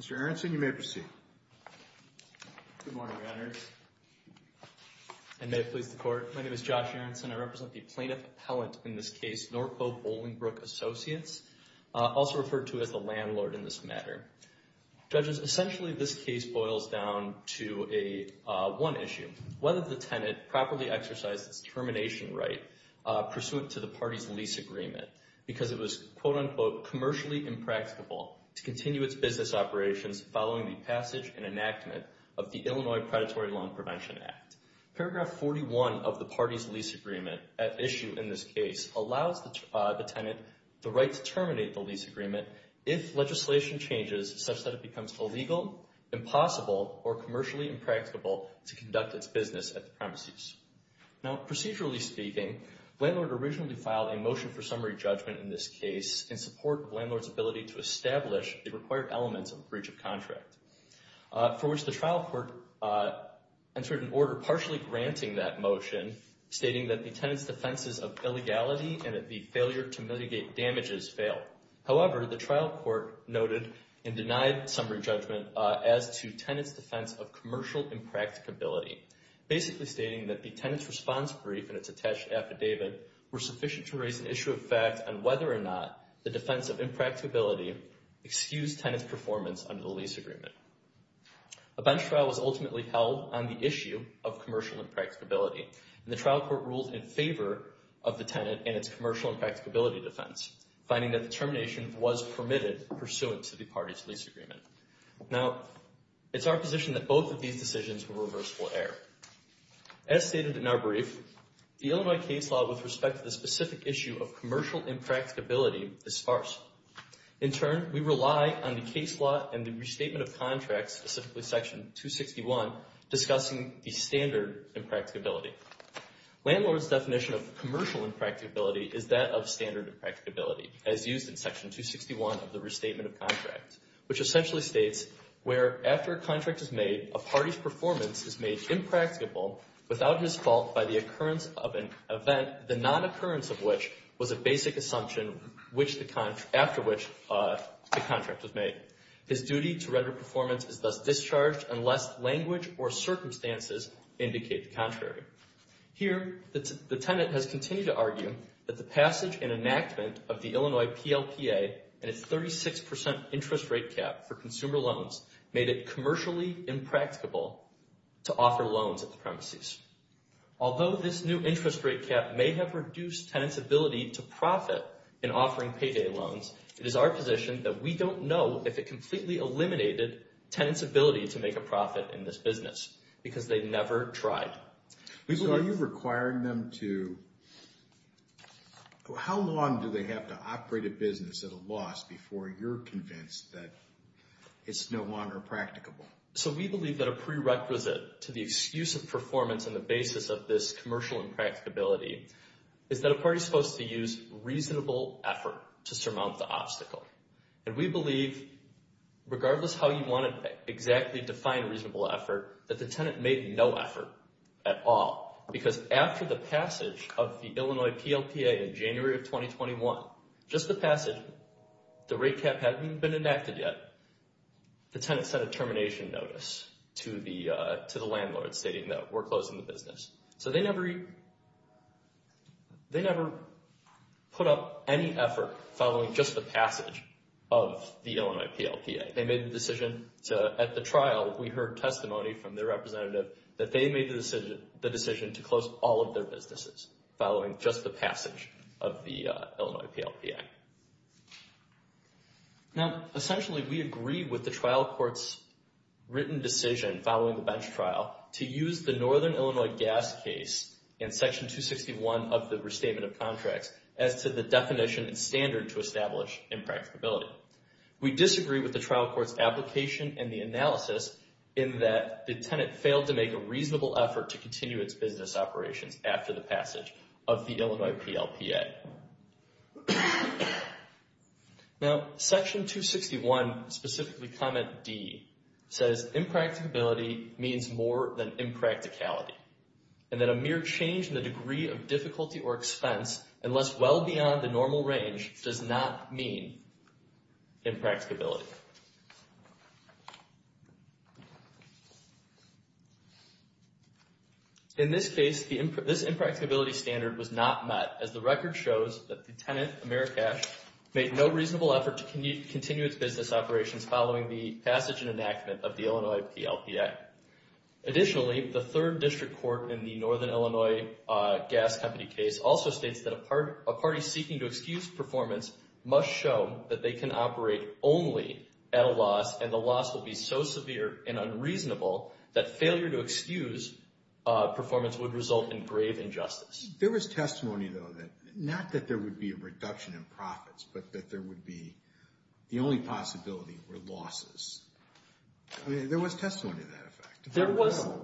Mr. Aronson, you may proceed. Good morning, Your Honors. And may it please the Court, my name is Josh Aronson. I represent the plaintiff appellant in this case, Norco Bolingbrook Associates, also referred to as the landlord in this matter. Judges, essentially this case boils down to one issue, whether the tenant properly exercised its termination right pursuant to the party's lease agreement because it was, quote-unquote, commercially impracticable to continue its business operations following the passage and enactment of the Illinois Predatory Loan Prevention Act. Paragraph 41 of the party's lease agreement at issue in this case allows the tenant the right to terminate the lease agreement if legislation changes such that it becomes illegal, impossible, or commercially impracticable to conduct its business at the premises. Now, procedurally speaking, landlord originally filed a motion for summary judgment in this case in support of landlord's ability to establish the required elements of a breach of contract, for which the trial court entered an order partially granting that motion, stating that the tenant's defenses of illegality and that the failure to mitigate damages fail. However, the trial court noted and denied summary judgment as to tenant's defense of commercial impracticability, basically stating that the tenant's response brief and its attached affidavit were sufficient to raise an issue of fact on whether or not the defense of impracticability excused tenant's performance under the lease agreement. A bench trial was ultimately held on the issue of commercial impracticability, and the trial court ruled in favor of the tenant and its commercial impracticability defense, finding that the termination was permitted pursuant to the party's lease agreement. Now, it's our position that both of these decisions were reversible error. As stated in our brief, the Illinois case law with respect to the specific issue of commercial impracticability is sparse. In turn, we rely on the case law and the restatement of contracts, specifically Section 261, discussing the standard impracticability. Landlord's definition of commercial impracticability is that of standard impracticability, as used in Section 261 of the Restatement of Contracts, which essentially states, where after a contract is made, a party's performance is made impracticable without his fault by the occurrence of an event, the non-occurrence of which was a basic assumption after which the contract was made. His duty to record performance is thus discharged unless language or circumstances indicate the contrary. Here, the tenant has continued to argue that the passage and enactment of the Illinois PLPA and its 36% interest rate cap for consumer loans made it commercially impracticable to offer loans at the premises. Although this new interest rate cap may have reduced tenants' ability to profit in offering payday loans, it is our position that we don't know if it completely eliminated tenants' ability to make a profit in this business, because they never tried. So are you requiring them to, how long do they have to operate a business at a loss before you're convinced that it's no longer practicable? So we believe that a prerequisite to the excuse of performance and the basis of this commercial impracticability is that a party's supposed to use reasonable effort to surmount the obstacle. And we believe, regardless of how you want to exactly define reasonable effort, that the tenant made no effort at all, because after the passage of the Illinois PLPA in January of 2021, just the passage, the rate cap hadn't even been enacted yet, the tenant sent a termination notice to the landlord stating that we're closing the business. So they never put up any effort following just the passage of the Illinois PLPA. They made the decision to, at the trial, we heard testimony from their representative that they made the decision to close all of their businesses following just the passage of the Illinois PLPA. Now, essentially, we agree with the trial court's written decision following the bench trial to use the Northern Illinois gas case in Section 261 of the Restatement of Contracts as to the definition and standard to establish impracticability. We disagree with the trial court's application and the analysis in that the tenant failed to make a reasonable effort to continue its business operations after the passage of the Illinois PLPA. Now, Section 261, specifically comment D, says impracticability means more than impracticality, and that a mere change in the degree of difficulty or expense unless well beyond the normal range does not mean impracticability. In this case, this impracticability standard was not met, as the record shows that the tenant, Amerikash, made no reasonable effort to continue its business operations following the passage and enactment of the Illinois PLPA. Additionally, the third district court in the Northern Illinois gas company case also states that a party seeking to excuse performance must show that they can operate only at a loss, and the loss will be so severe and unreasonable that failure to excuse performance would result in grave injustice. There was testimony, though, that not that there would be a reduction in profits, but that there would be the only possibility were losses. I mean, there was testimony to that effect.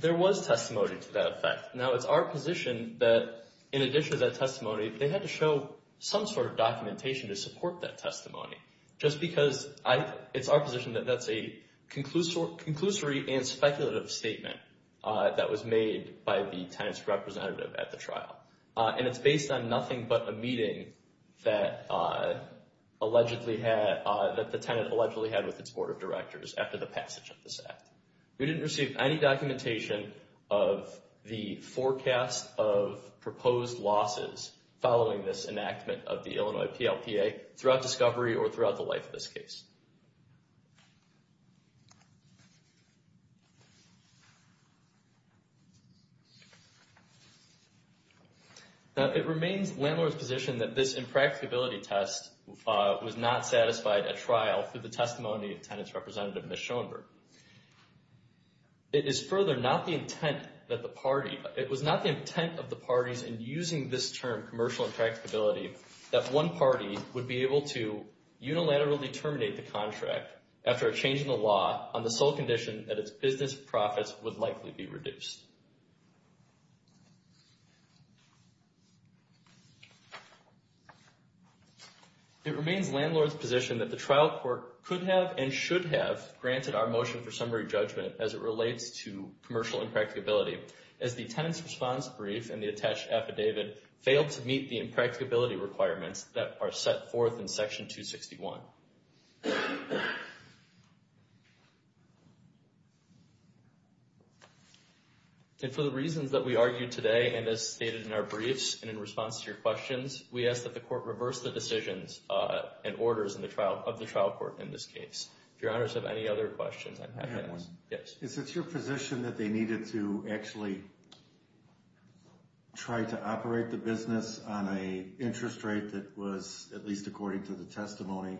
There was testimony to that effect. Now, it's our position that in addition to that testimony, they had to show some sort of documentation to support that testimony, just because it's our position that that's a conclusory and speculative statement that was made by the tenant's representative at the trial. And it's based on nothing but a meeting that allegedly had, that the tenant allegedly had with its board of directors after the passage of this act. We didn't receive any documentation of the forecast of proposed losses following this enactment of the Illinois PLPA throughout discovery or throughout the life of this case. Now, it remains Landlord's position that this impracticability test was not satisfied at trial through the testimony of tenant's representative, Ms. Schoenberg. It is further not the intent that the party, it was not the intent of the parties in using this term, commercial impracticability, that one party would be able to unilaterally terminate the contract after a change in the law on the sole condition that its business profits would likely be reduced. It remains Landlord's position that the trial court could have and should have granted our motion for summary judgment as it relates to commercial impracticability, as the tenant's response brief and the attached affidavit failed to meet the impracticability requirements that are set forth in Section 261. And for the reasons that we argued today and as stated in our briefs and in response to your questions, we ask that the court reverse the decisions and orders of the trial court in this case. If your honors have any other questions, I'm happy to, yes. Is it your position that they needed to actually try to operate the business on a interest rate that was, at least according to the testimony,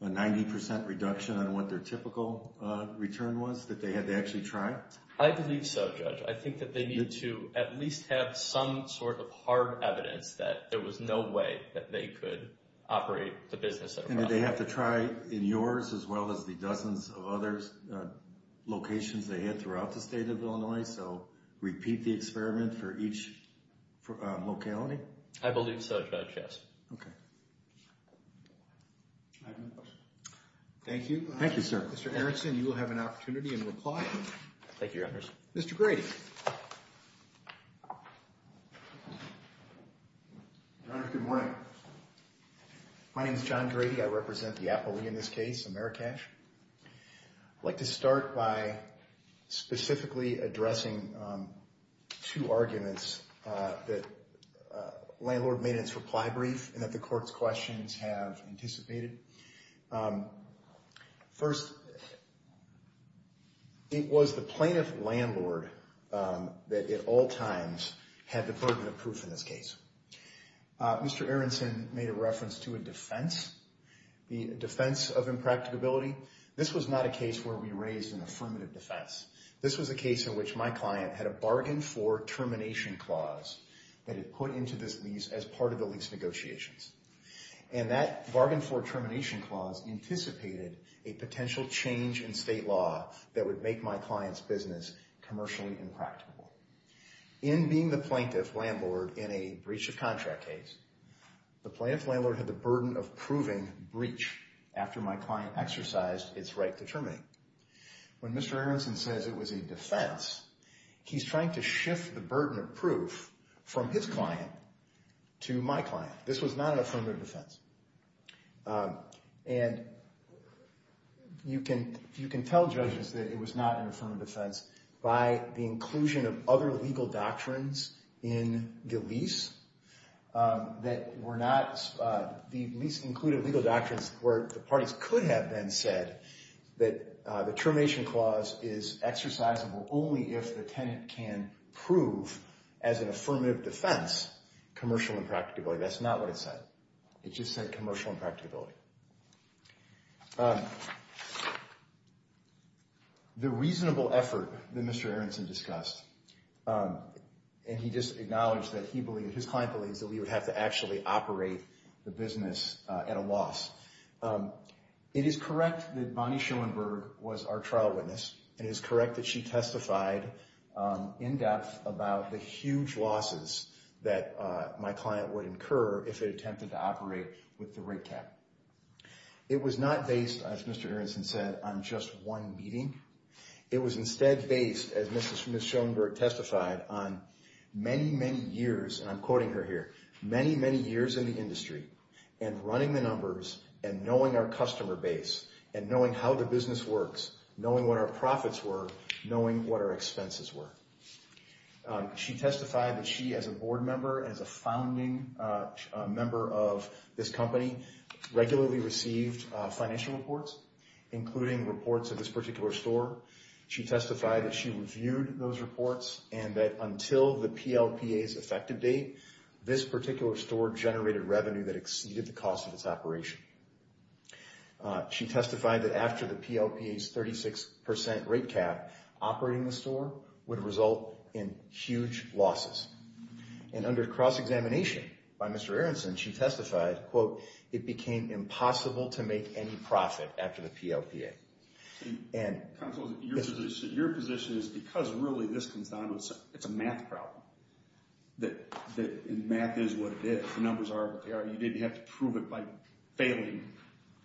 a 90% reduction on what their typical return was, that they had to actually try? I believe so, Judge. I think that they needed to at least have some sort of hard evidence that there was no way that they could operate the business. And did they have to try in yours as well as the dozens of other locations they had throughout the state of Illinois? So repeat the experiment for each locality? I believe so, Judge, yes. Okay. Thank you. Thank you, sir. Mr. Erickson, you will have an opportunity in reply. Thank you, your honors. Mr. Grady. Your honors, good morning. My name is John Grady. I represent the appellee in this case, Amerikash. I'd like to start by specifically addressing two arguments that landlord made in its reply brief and that the court's questions have anticipated. First, it was the plaintiff landlord that at all times had the burden of proof in this case. Mr. Erickson made a reference to a defense, the defense of impracticability. This was not a case where we raised an affirmative defense. This was a case in which my client had a bargain for termination clause that he put into this lease as part of the lease negotiations. And that bargain for termination clause anticipated a potential change in state law that would make my client's business commercially impracticable. In being the plaintiff landlord in a breach of contract case, the plaintiff landlord had the burden of proving breach after my client exercised its right to terminate. When Mr. Erickson says it was a defense, he's trying to shift the burden of proof from his client to my client. This was not an affirmative defense. And you can tell judges that it was not an affirmative defense by the inclusion of other legal doctrines in the lease that were not – the lease included legal doctrines where the parties could have then said that the termination clause is exercisable only if the tenant can prove as an affirmative defense commercial impracticability. That's not what it said. It just said commercial impracticability. The reasonable effort that Mr. Erickson discussed – and he just acknowledged that he believed, his client believes, that we would have to actually operate the business at a loss. It is correct that Bonnie Schoenberg was our trial witness. It is correct that she testified in depth about the huge losses that my client would incur if it attempted to operate with the rig tag. It was not based, as Mr. Erickson said, on just one meeting. It was instead based, as Ms. Schoenberg testified, on many, many years – and I'm quoting her here – many, many years in the industry and running the numbers and knowing our customer base and knowing how the business works, knowing what our profits were, knowing what our expenses were. She testified that she, as a board member, as a founding member of this company, regularly received financial reports, including reports of this particular store. She testified that she reviewed those reports and that until the PLPA's effective date, this particular store generated revenue that exceeded the cost of its operation. She testified that after the PLPA's 36 percent rate cap, operating the store would result in huge losses. And under cross-examination by Mr. Erickson, she testified, quote, it became impossible to make any profit after the PLPA. And – Counsel, your position is because really this comes down to – it's a math problem, that math is what it is. The numbers are what they are. You didn't have to prove it by failing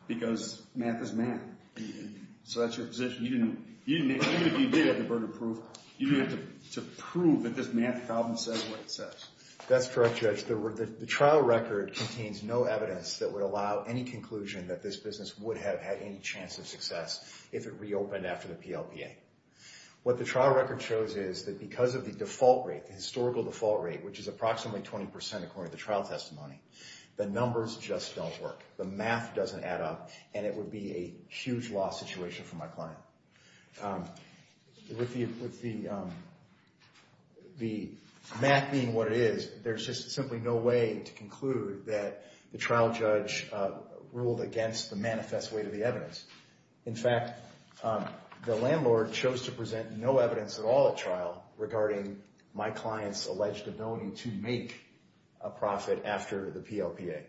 because math is math. So that's your position. You didn't – even if you did have the burden of proof, you didn't have to prove that this math problem says what it says. That's correct, Judge. The trial record contains no evidence that would allow any conclusion that this business would have had any chance of success if it reopened after the PLPA. What the trial record shows is that because of the default rate, the historical default rate, which is approximately 20 percent according to the trial testimony, the numbers just don't work. The math doesn't add up, and it would be a huge loss situation for my client. With the math being what it is, there's just simply no way to conclude that the trial judge ruled against the manifest weight of the evidence. In fact, the landlord chose to present no evidence at all at trial regarding my client's alleged ability to make a profit after the PLPA.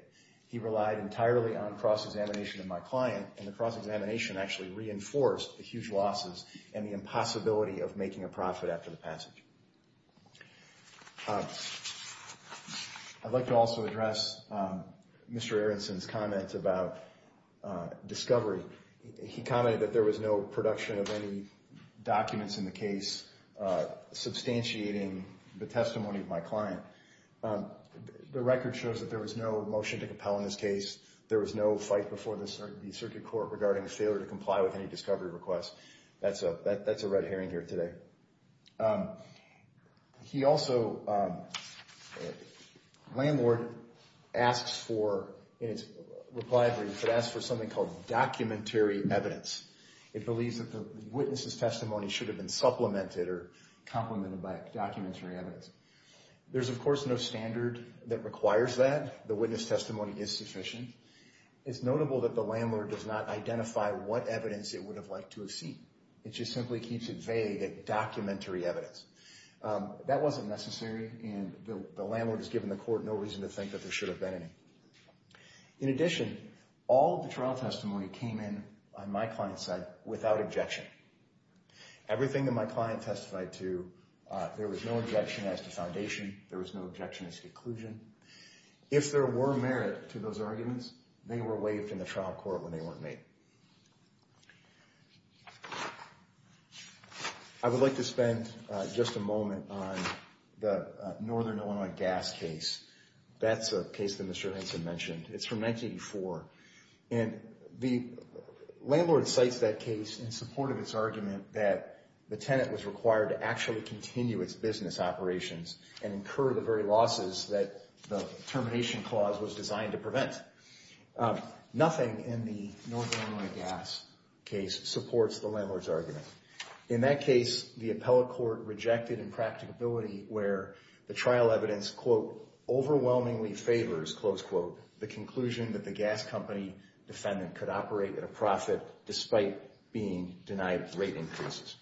He relied entirely on cross-examination of my client, and the cross-examination actually reinforced the huge losses and the impossibility of making a profit after the passage. I'd like to also address Mr. Aronson's comment about discovery. He commented that there was no production of any documents in the case substantiating the testimony of my client. The record shows that there was no motion to compel in this case. There was no fight before the circuit court regarding the failure to comply with any discovery request. That's a red herring here today. He also—the landlord asks for—in his reply brief, it asks for something called documentary evidence. It believes that the witness's testimony should have been supplemented or complemented by documentary evidence. There's, of course, no standard that requires that. The witness testimony is sufficient. It's notable that the landlord does not identify what evidence it would have liked to have seen. It just simply keeps it vague at documentary evidence. That wasn't necessary, and the landlord has given the court no reason to think that there should have been any. In addition, all of the trial testimony came in on my client's side without objection. Everything that my client testified to, there was no objection as to foundation. There was no objection as to inclusion. If there were merit to those arguments, they were waived in the trial court when they weren't made. I would like to spend just a moment on the Northern Illinois gas case. That's a case that Mr. Henson mentioned. It's from 1984, and the landlord cites that case in support of its argument that the tenant was required to actually continue its business operations and incur the very losses that the termination clause was designed to prevent. Nothing in the Northern Illinois gas case supports the landlord's argument. In that case, the appellate court rejected impracticability where the trial evidence, quote, overwhelmingly favors, close quote, the conclusion that the gas company defendant could operate at a profit despite being denied rate increases.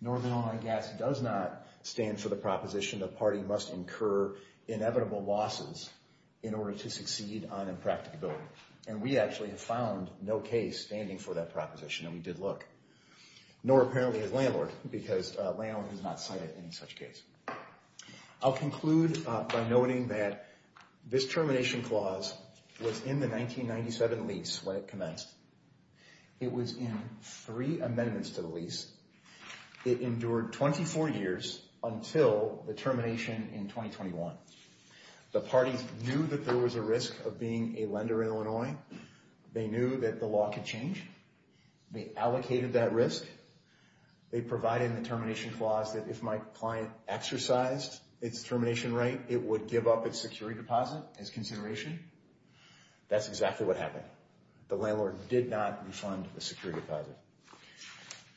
Northern Illinois Gas does not stand for the proposition the party must incur inevitable losses in order to succeed on impracticability. And we actually have found no case standing for that proposition, and we did look. Nor apparently has landlord, because landlord has not cited any such case. I'll conclude by noting that this termination clause was in the 1997 lease when it commenced. It was in three amendments to the lease. It endured 24 years until the termination in 2021. The parties knew that there was a risk of being a lender in Illinois. They knew that the law could change. They allocated that risk. They provided in the termination clause that if my client exercised its termination rate, it would give up its security deposit as consideration. That's exactly what happened. The landlord did not refund the security deposit.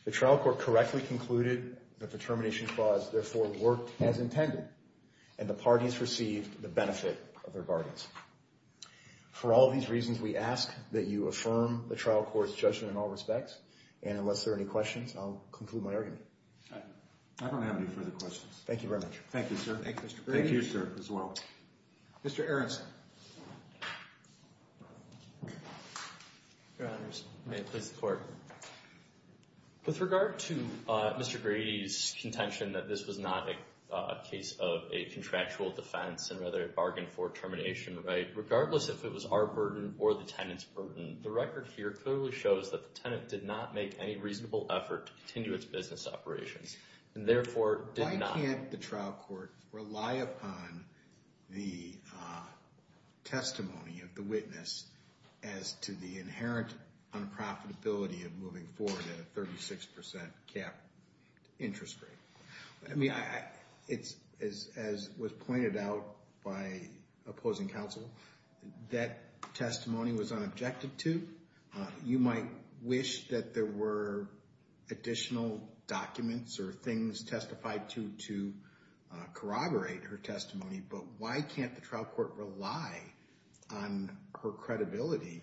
The trial court correctly concluded that the termination clause therefore worked as intended, and the parties received the benefit of their guardians. For all these reasons, we ask that you affirm the trial court's judgment in all respects. And unless there are any questions, I'll conclude my argument. I don't have any further questions. Thank you very much. Thank you, sir. Thank you, sir, as well. Mr. Aronson. Your Honors, may it please the Court. With regard to Mr. Grady's contention that this was not a case of a contractual defense and rather a bargain for termination rate, regardless if it was our burden or the tenant's burden, the record here clearly shows that the tenant did not make any reasonable effort to continue its business operations and therefore did not Can't the trial court rely upon the testimony of the witness as to the inherent unprofitability of moving forward at a 36% cap interest rate? I mean, as was pointed out by opposing counsel, that testimony was unobjected to. You might wish that there were additional documents or things testified to corroborate her testimony, but why can't the trial court rely on her credibility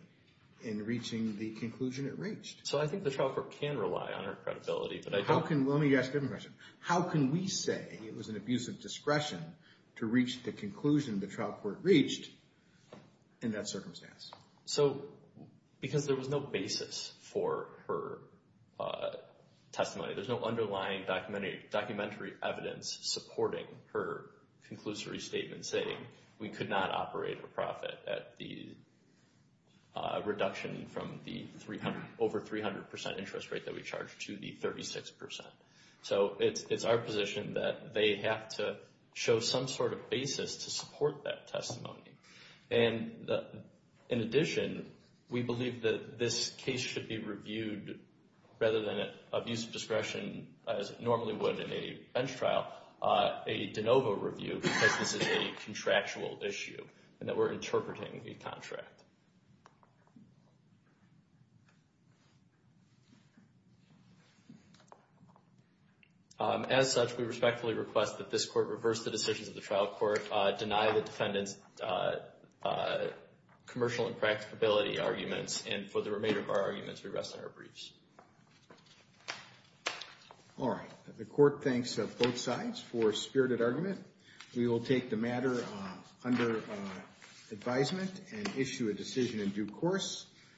in reaching the conclusion it reached? So I think the trial court can rely on her credibility, but I don't How can we say it was an abuse of discretion to reach the conclusion the trial court reached in that circumstance? Because there was no basis for her testimony. There's no underlying documentary evidence supporting her conclusory statement saying we could not operate a profit at the reduction from the over 300% interest rate that we charged to the 36%. So it's our position that they have to show some sort of basis to support that testimony. And in addition, we believe that this case should be reviewed rather than an abuse of discretion as it normally would in a bench trial, a de novo review, because this is a contractual issue and that we're interpreting a contract. As such, we respectfully request that this court reverse the decisions of the trial court, deny the defendant's commercial impracticability arguments, and for the remainder of our arguments, we rest on our briefs. All right. The court thanks both sides for spirited argument. We will take the matter under advisement and issue a decision in due course.